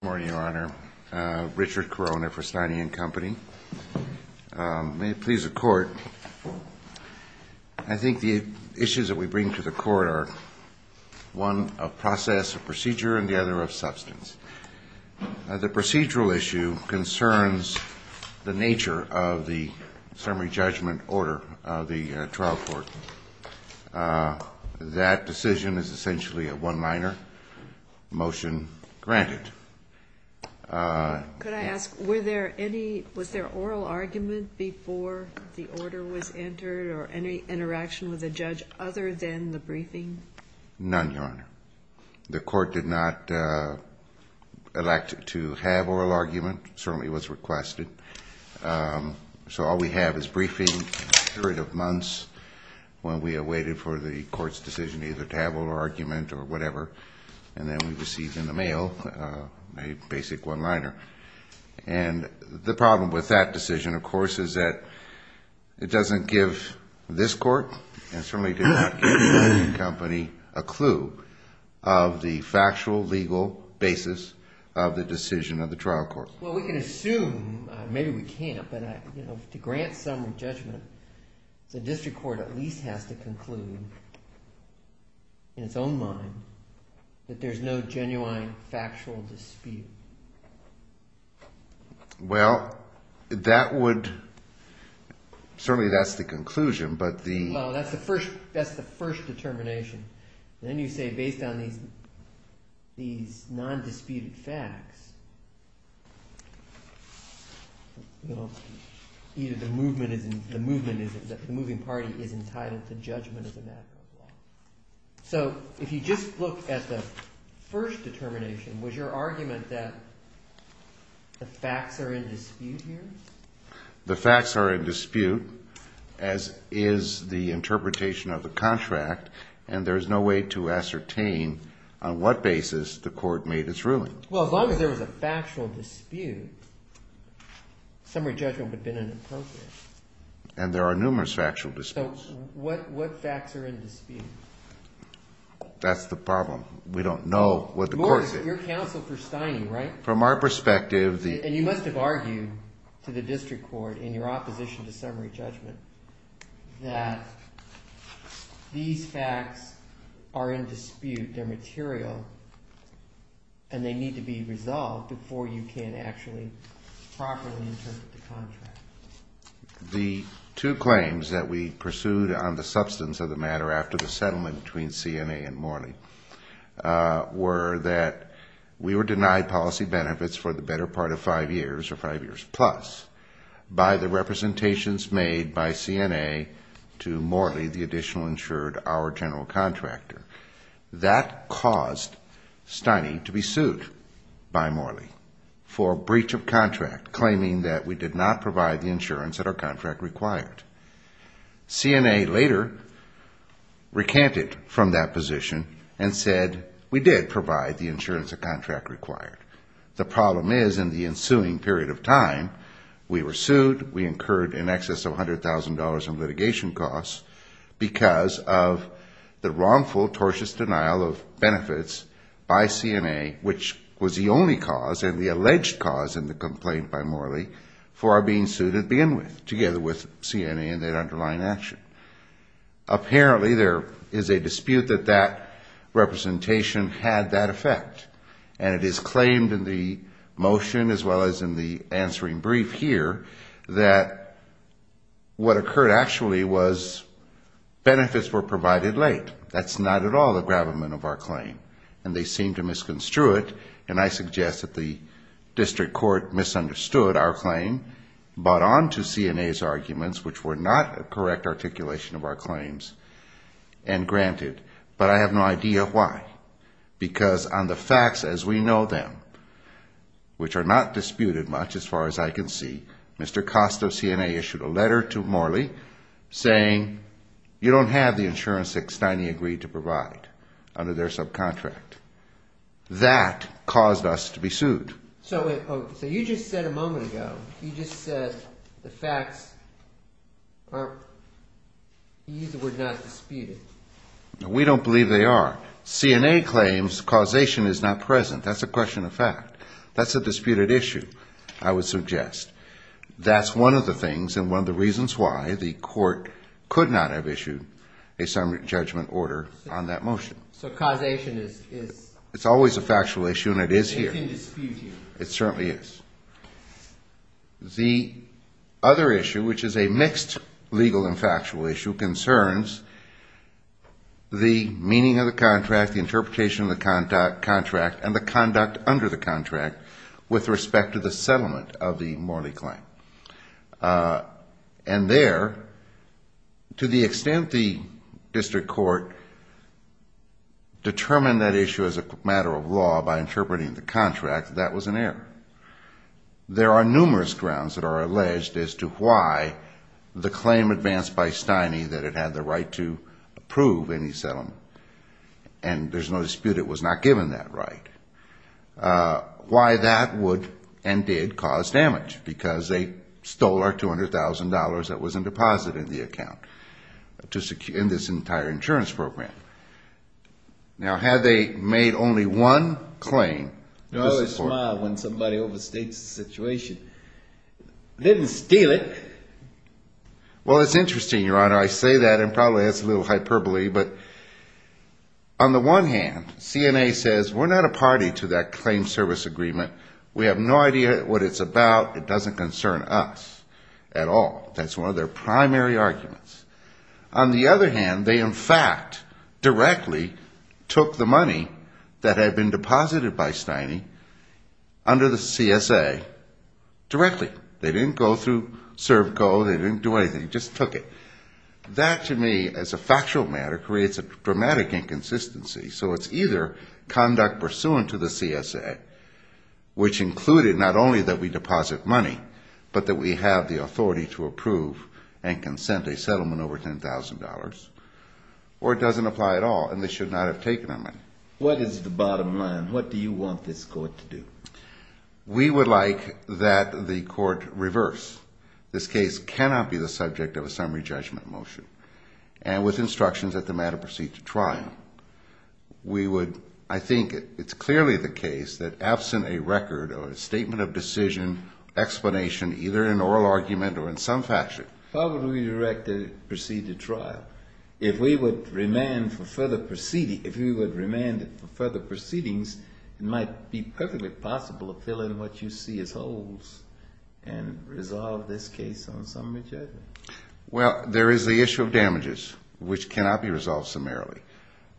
Good morning, Your Honor. Richard Corona for Steiny and Company. May it please the Court, I think the issues that we bring to the Court are one, a process, a procedure, and the other, a substance. The procedural issue concerns the nature of the summary judgment order of the trial court. That decision is essentially a one-liner, motion granted. Could I ask, were there any, was there oral argument before the order was entered or any interaction with the judge other than the briefing? None, Your Honor. The Court did not elect to have oral argument. It certainly was requested. So all we have is briefing, a period of months when we have waited for the Court's decision either to have oral argument or whatever, and then we received in the mail a basic one-liner. And the problem with that decision, of course, is that it doesn't give this Court and certainly did not give Steiny and Company a clue of the factual, legal basis of the decision of the trial court. Well, we can assume, maybe we can't, but to grant summary judgment, the district court at least has to conclude in its own mind that there's no genuine factual dispute. Well, that would – certainly that's the conclusion, but the – Well, that's the first determination. Then you say based on these non-disputed facts, either the movement is – the moving party is entitled to judgment as a matter of law. So if you just look at the first determination, was your argument that the facts are in dispute here? The facts are in dispute, as is the interpretation of the contract, and there is no way to ascertain on what basis the Court made its ruling. Well, as long as there was a factual dispute, summary judgment would have been inappropriate. And there are numerous factual disputes. So what facts are in dispute? That's the problem. We don't know what the Court said. You're counsel for Steiny, right? From our perspective, the – And you must have argued to the district court in your opposition to summary judgment that these facts are in dispute, they're material, and they need to be resolved before you can actually properly interpret the contract. The two claims that we pursued on the substance of the matter after the settlement between CNA and Morley were that we were denied policy benefits for the better part of five years or five years plus by the representations made by CNA to Morley, the additional insured, our general contractor. That caused Steiny to be sued by Morley for breach of contract, claiming that we did not provide the insurance that our contract required. CNA later recanted from that position and said we did provide the insurance the contract required. The problem is, in the ensuing period of time, we were sued, we incurred in excess of $100,000 in litigation costs because of the wrongful, tortious denial of benefits by CNA, which was the only cause and the alleged cause in the complaint by Morley for our being sued to begin with, together with CNA and that underlying action. Apparently, there is a dispute that that representation had that effect, and it is claimed in the motion, as well as in the answering brief here, that what occurred actually was benefits were provided late. That's not at all the gravamen of our claim, and they seem to misconstrue it, and I suggest that the district court misunderstood our claim, bought onto CNA's arguments, which were not a correct articulation of our claims, and granted. But I have no idea why, because on the facts as we know them, which are not disputed much as far as I can see, Mr. Costa of CNA issued a letter to Morley saying you don't have the insurance that Steiny agreed to provide under their subcontract. That caused us to be sued. So you just said a moment ago, you just said the facts were not disputed. We don't believe they are. CNA claims causation is not present. That's a question of fact. That's a disputed issue, I would suggest. That's one of the things and one of the reasons why the court could not have issued a summary judgment order on that motion. So causation is... It's always a factual issue, and it is here. It's within dispute here. It certainly is. The other issue, which is a mixed legal and factual issue, concerns the meaning of the contract, the interpretation of the contract, and the conduct under the contract with respect to the settlement of the Morley claim. And there, to the extent the district court determined that issue as a matter of law by interpreting the contract, that was an error. There are numerous grounds that are alleged as to why the claim advanced by Steiny that it had the right to approve any settlement, and there's no dispute it was not given that right, why that would and did cause damage, because they stole our $200,000 that was in deposit in the account in this entire insurance program. Now, had they made only one claim... You always smile when somebody overstates the situation. They didn't steal it. Well, it's interesting, Your Honor. I say that, and probably that's a little hyperbole, but on the one hand, CNA says we're not a party to that claim service agreement. We have no idea what it's about. It doesn't concern us at all. That's one of their primary arguments. On the other hand, they, in fact, directly took the money that had been deposited by Steiny under the CSA directly. They didn't go through CERB Gold. They didn't do anything. Just took it. That, to me, as a factual matter, creates a dramatic inconsistency. So it's either conduct pursuant to the CSA, which included not only that we deposit money, but that we have the authority to approve and consent a settlement over $10,000, or it doesn't apply at all and they should not have taken our money. What is the bottom line? What do you want this court to do? We would like that the court reverse. This case cannot be the subject of a summary judgment motion, and with instructions that the matter proceed to trial. We would, I think it's clearly the case that absent a record or a statement of decision, explanation, either an oral argument or in some fashion. How would we direct it to proceed to trial? If we would remand it for further proceedings, it might be perfectly possible to fill in what you see as holes and resolve this case on summary judgment. Well, there is the issue of damages, which cannot be resolved summarily.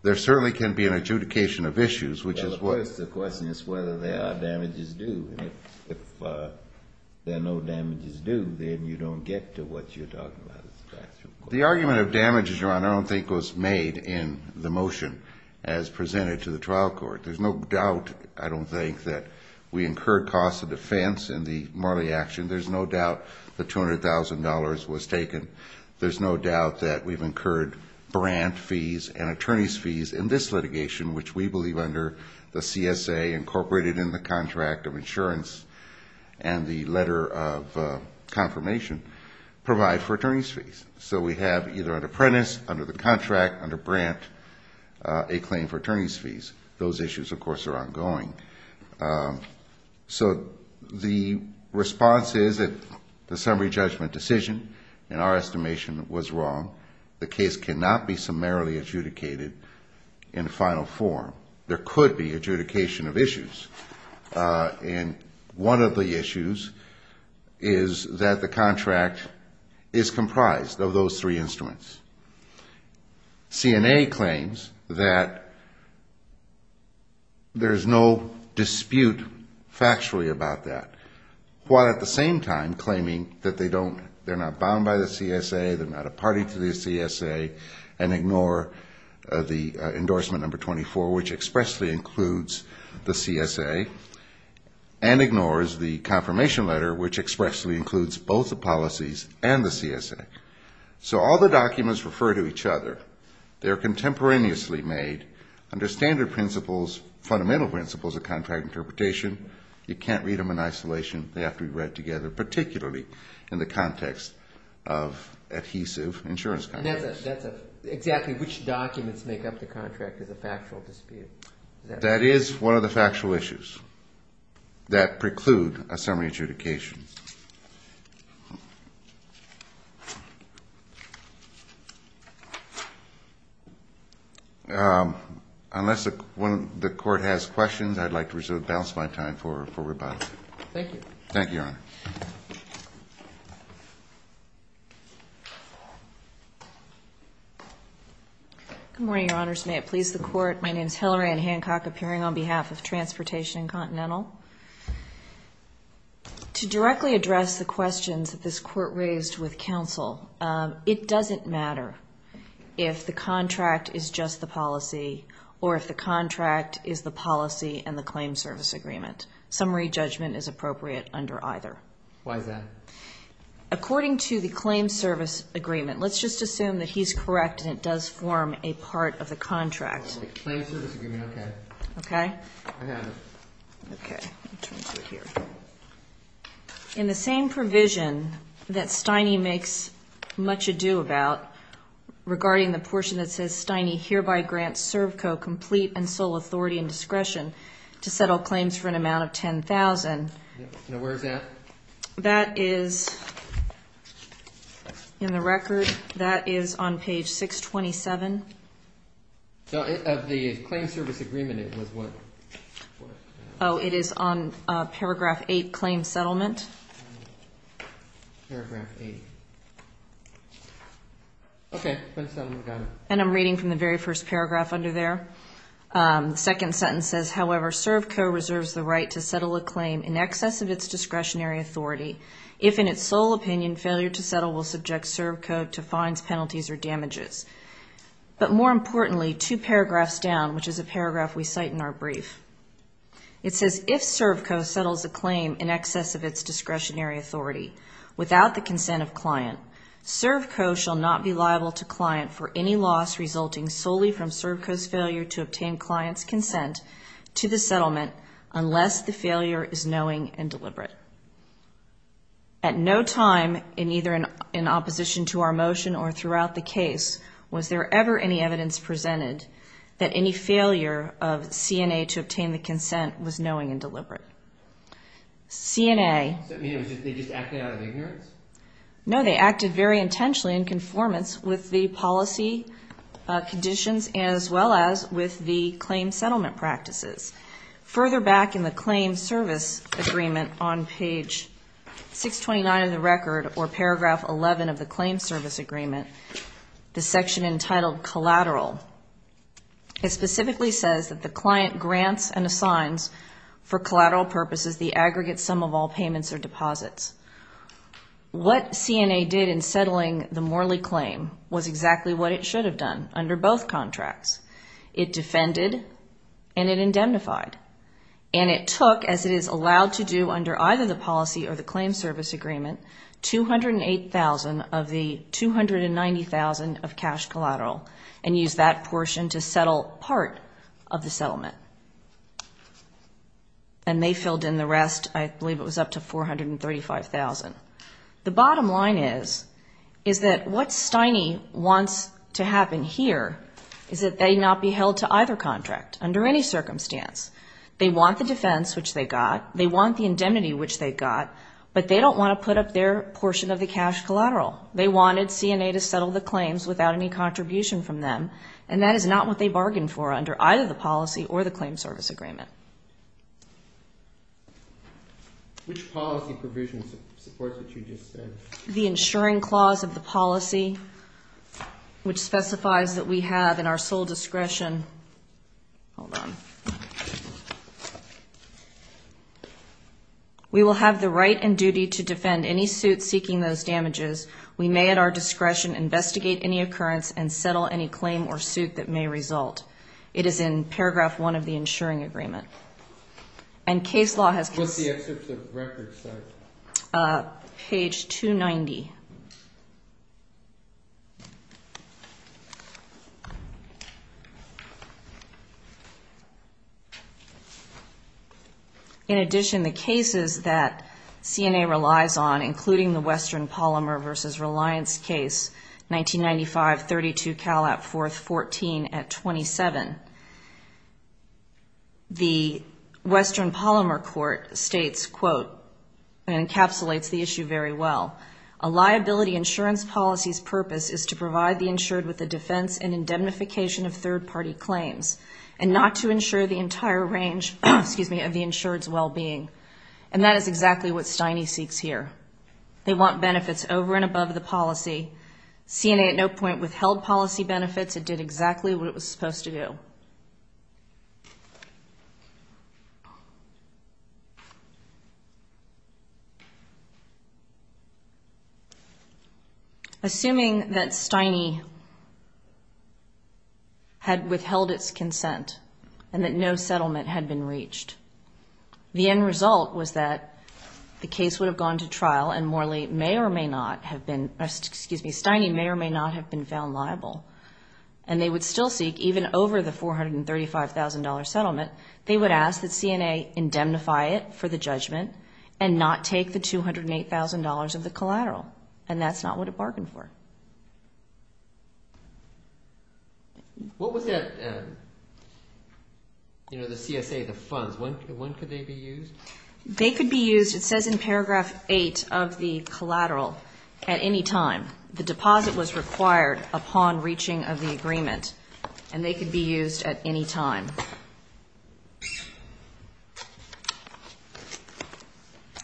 There certainly can be an adjudication of issues, which is what? Well, of course, the question is whether there are damages due. And if there are no damages due, then you don't get to what you're talking about as a factual question. The argument of damages, Your Honor, I don't think was made in the motion as presented to the trial court. There's no doubt, I don't think, that we incurred costs of defense in the Morley action. There's no doubt the $200,000 was taken. There's no doubt that we've incurred brand fees and attorney's fees in this litigation, which we believe under the CSA incorporated in the contract of insurance and the letter of confirmation provide for attorney's fees. So we have either an apprentice under the contract, under brand, a claim for attorney's fees. Those issues, of course, are ongoing. So the response is that the summary judgment decision, in our estimation, was wrong. The case cannot be summarily adjudicated in final form. There could be adjudication of issues. And one of the issues is that the contract is comprised of those three instruments. CNA claims that there's no dispute factually about that, while at the same time claiming that they're not bound by the CSA, they're not a party to the CSA, and ignore the endorsement number 24, which expressly includes the CSA, and ignores the confirmation letter, which expressly includes both the policies and the CSA. So all the documents refer to each other. They're contemporaneously made under standard principles, fundamental principles of contract interpretation. You can't read them in isolation. They have to be read together, particularly in the context of adhesive insurance contracts. Exactly which documents make up the contract is a factual dispute. That is one of the factual issues that preclude a summary adjudication. Unless the court has questions, I'd like to reserve the balance of my time for rebuttal. Thank you. Thank you, Your Honor. Good morning, Your Honors. May it please the Court. My name is Hillary Ann Hancock, appearing on behalf of Transportation and Continental. To directly address the questions that this Court raised with counsel, it doesn't matter if the contract is just the policy or if the contract is the policy and the claim service agreement. Summary judgment is appropriate under either. Why is that? According to the claim service agreement, let's just assume that he's correct and it does form a part of the contract. The claim service agreement, okay. Okay? I have it. Okay. Turn to here. In the same provision that Stiney makes much ado about regarding the portion that says, Stiney hereby grants Servco complete and sole authority and discretion to settle claims for an amount of $10,000. Now, where is that? That is in the record. That is on page 627. No, of the claim service agreement, it was what? Oh, it is on paragraph 8, claim settlement. Paragraph 8. Okay. And I'm reading from the very first paragraph under there. The second sentence says, however, Servco reserves the right to settle a claim in excess of its discretionary authority. If in its sole opinion, failure to settle will subject Servco to fines, penalties, or damages. But more importantly, two paragraphs down, which is a paragraph we cite in our brief. It says, if Servco settles a claim in excess of its discretionary authority without the consent of client, Servco shall not be liable to client for any loss resulting solely from Servco's failure to obtain client's consent to the settlement At no time, in either in opposition to our motion or throughout the case, was there ever any evidence presented that any failure of CNA to obtain the consent was knowing and deliberate. CNA. Does that mean they just acted out of ignorance? No, they acted very intentionally in conformance with the policy conditions as well as with the claim settlement practices. Further back in the claim service agreement on page 629 of the record or paragraph 11 of the claim service agreement, the section entitled collateral. It specifically says that the client grants and assigns for collateral purposes the aggregate sum of all payments or deposits. What CNA did in settling the Morley claim was exactly what it should have done under both contracts. It defended and it indemnified. And it took, as it is allowed to do under either the policy or the claim service agreement, 208,000 of the 290,000 of cash collateral and used that portion to settle part of the settlement. And they filled in the rest, I believe it was up to 435,000. The bottom line is, is that what Stiney wants to happen here is that they not be held to either contract under any circumstance. They want the defense, which they got. They want the indemnity, which they got. But they don't want to put up their portion of the cash collateral. They wanted CNA to settle the claims without any contribution from them. And that is not what they bargained for under either the policy or the claim service agreement. Which policy provision supports what you just said? The insuring clause of the policy, which specifies that we have in our sole discretion, hold on. We will have the right and duty to defend any suit seeking those damages. We may at our discretion investigate any occurrence and settle any claim or suit that may result. It is in paragraph one of the insuring agreement. And case law has... What's the excerpt of the record say? Page 290. In addition, the cases that CNA relies on, including the Western Polymer v. Reliance case, 1995-32 Calat 4th 14 at 27. The Western Polymer court states, quote, and encapsulates the issue very well. A liability insurance policy's purpose is to provide the insured with the defense and indemnification of third-party claims. And not to insure the entire range of the insured's well-being. And that is exactly what Steine seeks here. They want benefits over and above the policy. CNA at no point withheld policy benefits. It did exactly what it was supposed to do. And that is exactly what it was supposed to do. Assuming that Steine had withheld its consent and that no settlement had been reached. The end result was that the case would have gone to trial and Morley may or may not have been... Excuse me, Steine may or may not have been found liable. And they would still seek, even over the $435,000 settlement, they would ask that CNA indemnify it for the judgment. And not take the $208,000 of the collateral. And that's not what it bargained for. What was that, you know, the CSA, the funds, when could they be used? They could be used, it says in paragraph 8 of the collateral, at any time. The deposit was required upon reaching of the agreement. And they could be used at any time.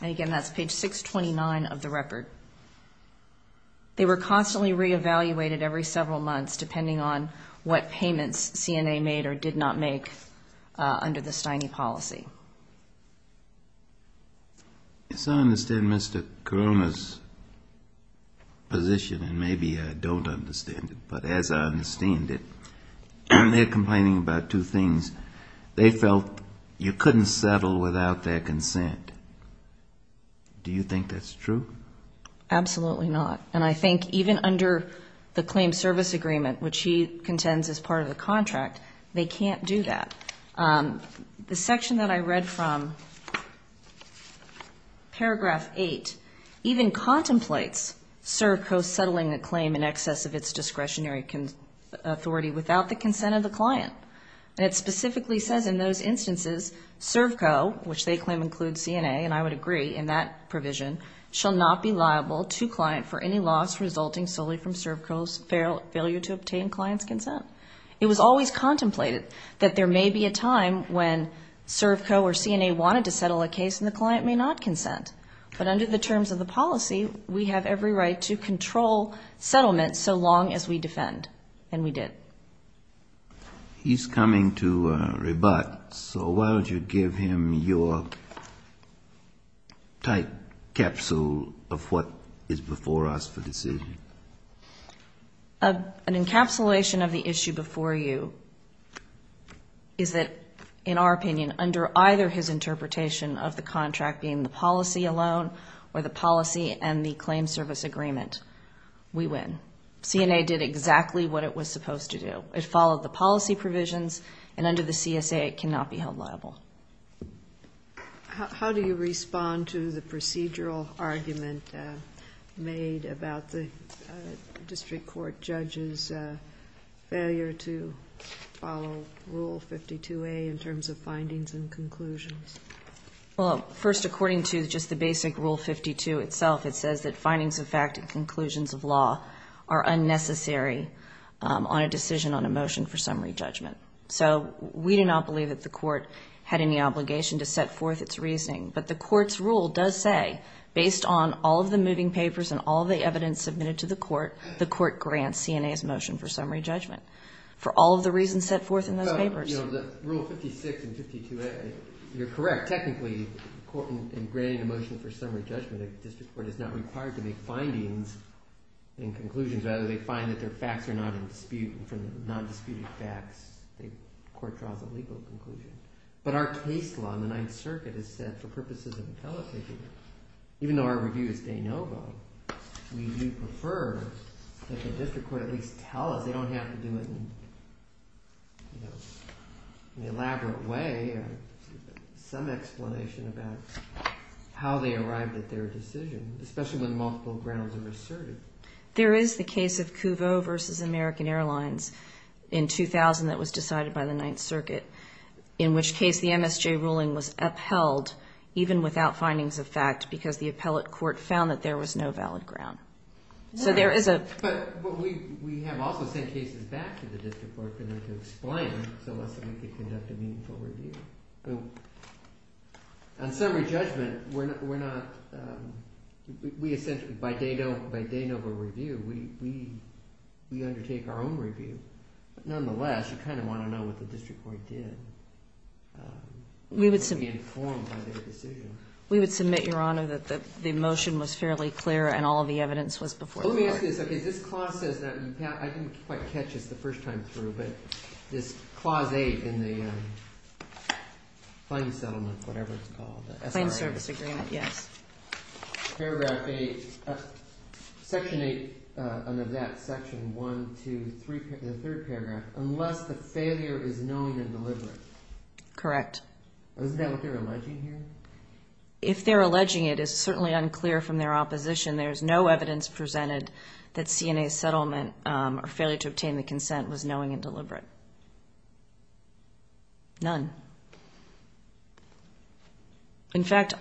And again, that's page 629 of the record. They were constantly reevaluated every several months, depending on what payments CNA made or did not make under the Steine policy. Yes, I understand Mr. Koroma's position, and maybe I don't understand it. But as I understand it, they're complaining about two things. They felt you couldn't settle without their consent. Do you think that's true? Absolutely not. And I think even under the claim service agreement, which he contends is part of the contract, they can't do that. The section that I read from, paragraph 8, even contemplates CERVCO settling a claim in excess of its discretionary authority without the consent of the client. And it specifically says in those instances, CERVCO, which they claim includes CNA, and I would agree in that provision, shall not be liable to client for any loss resulting solely from CERVCO's failure to obtain client's consent. It was always contemplated that there may be a time when CERVCO or CNA wanted to settle a case and the client may not consent. But under the terms of the policy, we have every right to control settlement so long as we defend, and we did. He's coming to rebut, so why don't you give him your tight capsule of what is before us for decision? An encapsulation of the issue before you is that, in our opinion, under either his interpretation of the contract being the policy alone or the policy and the claim service agreement, we win. CNA did exactly what it was supposed to do. It followed the policy provisions, and under the CSA, it cannot be held liable. How do you respond to the procedural argument made about the district court judge's failure to follow Rule 52A in terms of findings and conclusions? Well, first, according to just the basic Rule 52 itself, it says that findings of fact and conclusions of law are unnecessary on a decision on a motion for summary judgment. So we do not believe that the court had any obligation to set forth its reasoning. But the court's rule does say, based on all of the moving papers and all of the evidence submitted to the court, the court grants CNA's motion for summary judgment for all of the reasons set forth in those papers. So, you know, the Rule 56 and 52A, you're correct. Technically, in granting a motion for summary judgment, a district court is not required to make findings and conclusions. Rather, they find that their facts are not in dispute, and from the nondisputed facts, the court draws a legal conclusion. But our case law in the Ninth Circuit is set for purposes of appellate taking. Even though our review is de novo, we do prefer that the district court at least tell us. They don't have to do it in an elaborate way or some explanation about how they arrived at their decision, especially when multiple grounds are asserted. There is the case of Couveau v. American Airlines in 2000 that was decided by the Ninth Circuit, in which case the MSJ ruling was upheld, even without findings of fact, because the appellate court found that there was no valid ground. So there is a... But we have also sent cases back to the district court in order to explain them so that we can conduct a meaningful review. On summary judgment, we're not... We essentially, by de novo review, we undertake our own review. Nonetheless, you kind of want to know what the district court did to be informed by their decision. We would submit, Your Honor, that the motion was fairly clear and all of the evidence was before the court. Let me ask you this. I didn't quite catch this the first time through, but this Clause 8 in the claim settlement, whatever it's called. Claim service agreement, yes. Paragraph 8, Section 8 under that, Section 1, 2, 3, the third paragraph, unless the failure is known and deliberate. Correct. Isn't that what they're alleging here? If they're alleging it, it's certainly unclear from their opposition. There's no evidence presented that CNA's settlement or failure to obtain the consent was knowing and deliberate. None. In fact,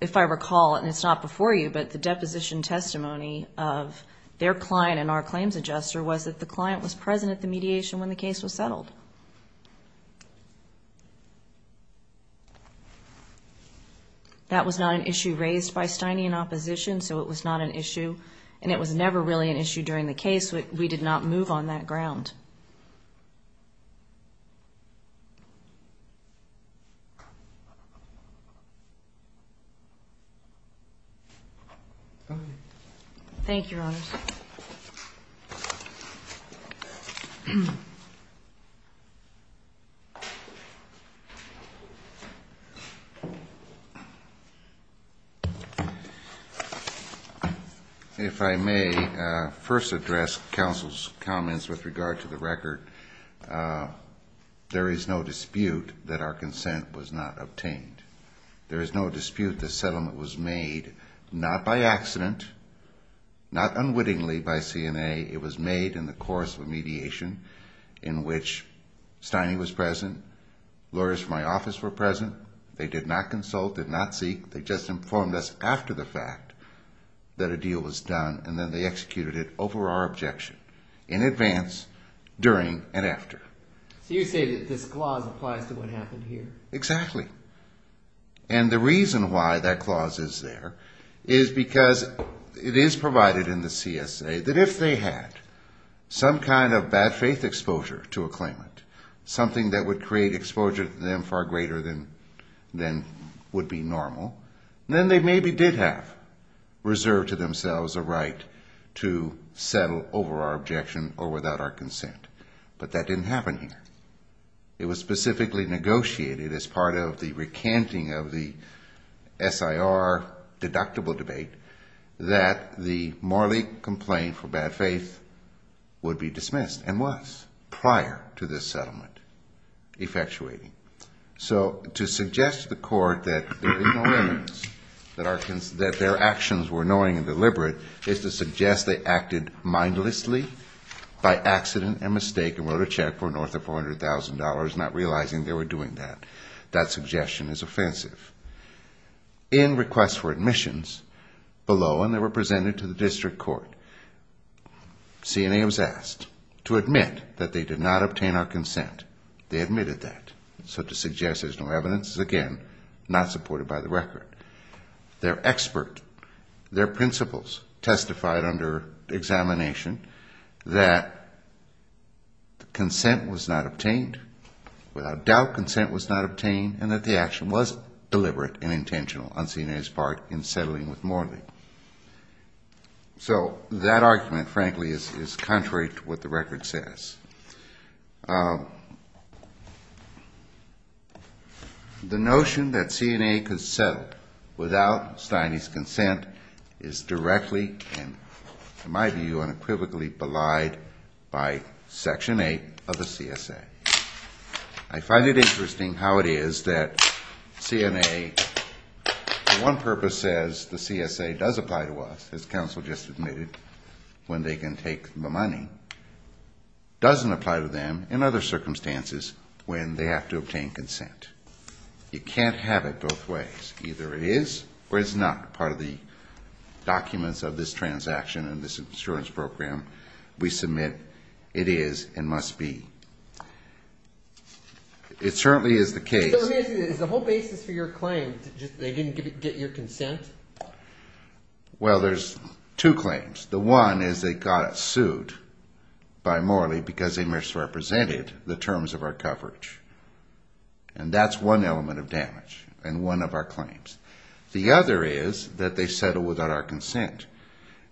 if I recall, and it's not before you, but the deposition testimony of their client and our claims adjuster was that the client was present at the mediation when the case was settled. That was not an issue raised by Stiney in opposition, so it was not an issue, and it was never really an issue during the case. We did not move on that ground. Thank you, Your Honors. If I may first address counsel's comments with regard to the record. There is no dispute that our consent was not obtained. There is no dispute the settlement was made not by accident, not unwittingly by CNA. It was made in the course of mediation in which Stiney was present, lawyers from my office were present. They did not consult, did not seek. They just informed us after the fact that a deal was done, and then they executed it over our objection. In advance, during, and after. So you say that this clause applies to what happened here. Exactly. And the reason why that clause is there is because it is provided in the CSA that if they had some kind of bad faith exposure to a claimant, something that would create exposure to them far greater than would be normal, then they maybe did have reserved to themselves a right to settle over our objection or without our consent. But that didn't happen here. It was specifically negotiated as part of the recanting of the SIR deductible debate that the Morley complaint for bad faith would be dismissed, and was prior to this settlement effectuating. So to suggest to the court that their actions were annoying and deliberate is to suggest they acted mindlessly by accident and mistake and wrote a check for north of $400,000, not realizing they were doing that. That suggestion is offensive. In requests for admissions below, and they were presented to the district court, CNA was asked to admit that they did not obtain our consent. They admitted that. So to suggest there's no evidence is, again, not supported by the record. Their expert, their principals testified under examination that consent was not obtained, without doubt consent was not obtained, and that the action was deliberate and intentional on CNA's part in settling with Morley. So that argument, frankly, is contrary to what the record says. The notion that CNA could settle without Stiney's consent is directly and, in my view, unequivocally belied by Section 8 of the CSA. I find it interesting how it is that CNA, for one purpose, says the CSA does apply to us, as counsel just admitted, when they can take the money, doesn't apply to them in other circumstances when they have to obtain consent. You can't have it both ways. Either it is or it's not part of the documents of this transaction and this insurance program. We submit it is and must be. It certainly is the case. Is the whole basis for your claim just they didn't get your consent? Well, there's two claims. The one is they got sued by Morley because they misrepresented the terms of our coverage. And that's one element of damage in one of our claims. The other is that they settled without our consent.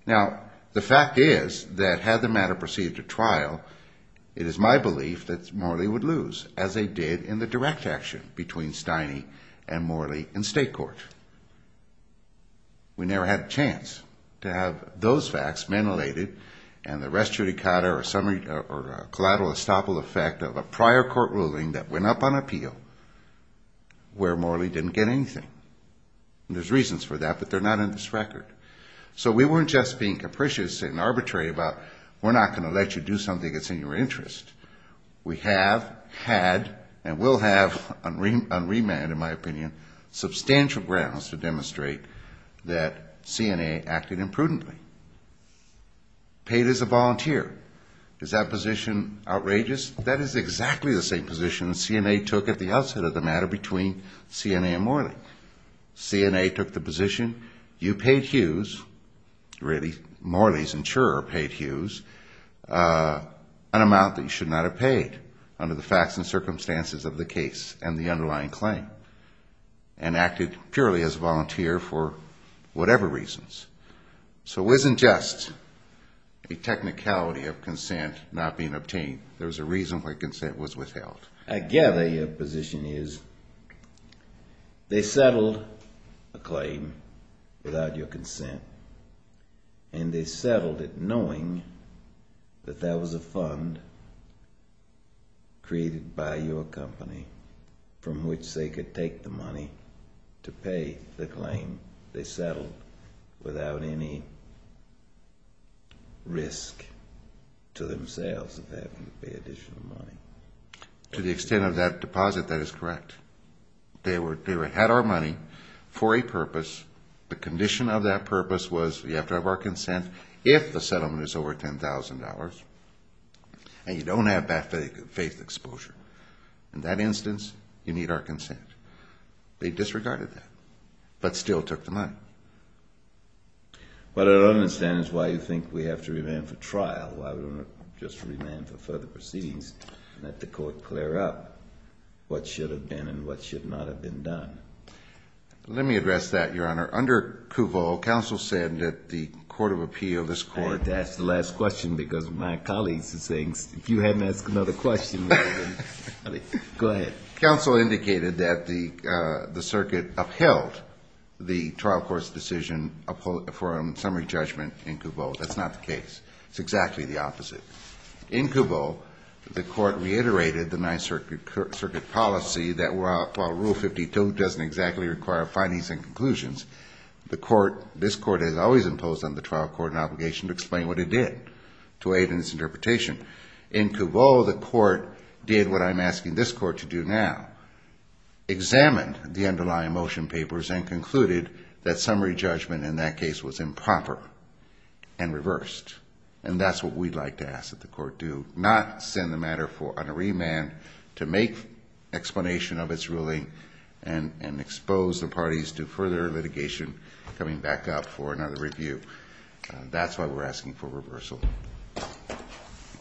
Now, the fact is that had the matter proceeded to trial, it is my belief that Morley would lose, as they did in the direct action between Stiney and Morley in state court. We never had a chance to have those facts ventilated and the res judicata or collateral estoppel effect of a prior court ruling that went up on appeal where Morley didn't get anything. And there's reasons for that, but they're not in this record. So we weren't just being capricious and arbitrary about we're not going to let you do something that's in your interest. We have had and will have on remand, in my opinion, substantial grounds to demonstrate that CNA acted imprudently. Paid as a volunteer. Is that position outrageous? That is exactly the same position that CNA took at the outset of the matter between CNA and Morley. CNA took the position you paid Hughes, really, Morley's insurer paid Hughes, an amount that you should not have paid under the facts and circumstances of the case and the underlying claim and acted purely as a volunteer for whatever reasons. So it wasn't just a technicality of consent not being obtained. There was a reason why consent was withheld. I gather your position is they settled a claim without your consent, and they settled it knowing that that was a fund created by your company from which they could take the money to pay the claim. They settled without any risk to themselves that they have to pay additional money. To the extent of that deposit, that is correct. They had our money for a purpose. The condition of that purpose was you have to have our consent if the settlement is over $10,000 and you don't have faith exposure. In that instance, you need our consent. They disregarded that but still took the money. What I don't understand is why you think we have to remand for trial, why we don't just remand for further proceedings and let the court clear up what should have been and what should not have been done. Let me address that, Your Honor. Under Kuvo, counsel said that the court of appeal, this court ---- I had to ask the last question because my colleagues are saying if you hadn't asked another question, go ahead. Counsel indicated that the circuit upheld the trial court's decision for a summary judgment in Kuvo. That's not the case. It's exactly the opposite. In Kuvo, the court reiterated the Ninth Circuit policy that while Rule 52 doesn't exactly require findings and conclusions, this court has always imposed on the trial court an obligation to explain what it did to aid in its interpretation. In Kuvo, the court did what I'm asking this court to do now, examined the underlying motion papers and concluded that summary judgment in that case was improper and reversed. And that's what we'd like to ask that the court do, not send the matter on a remand to make explanation of its ruling and expose the parties to further litigation coming back up for another review. That's why we're asking for reversal.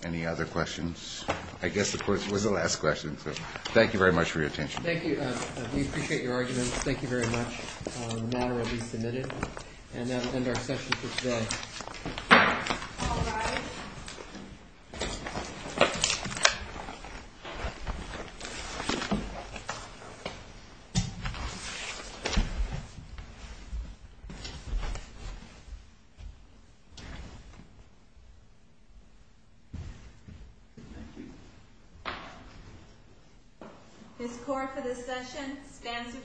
Any other questions? I guess the court was the last question, so thank you very much for your attention. Thank you. We appreciate your arguments. Thank you very much. The matter will be submitted. And that will end our session for today. All rise. Thank you. This court for this session stands adjourned.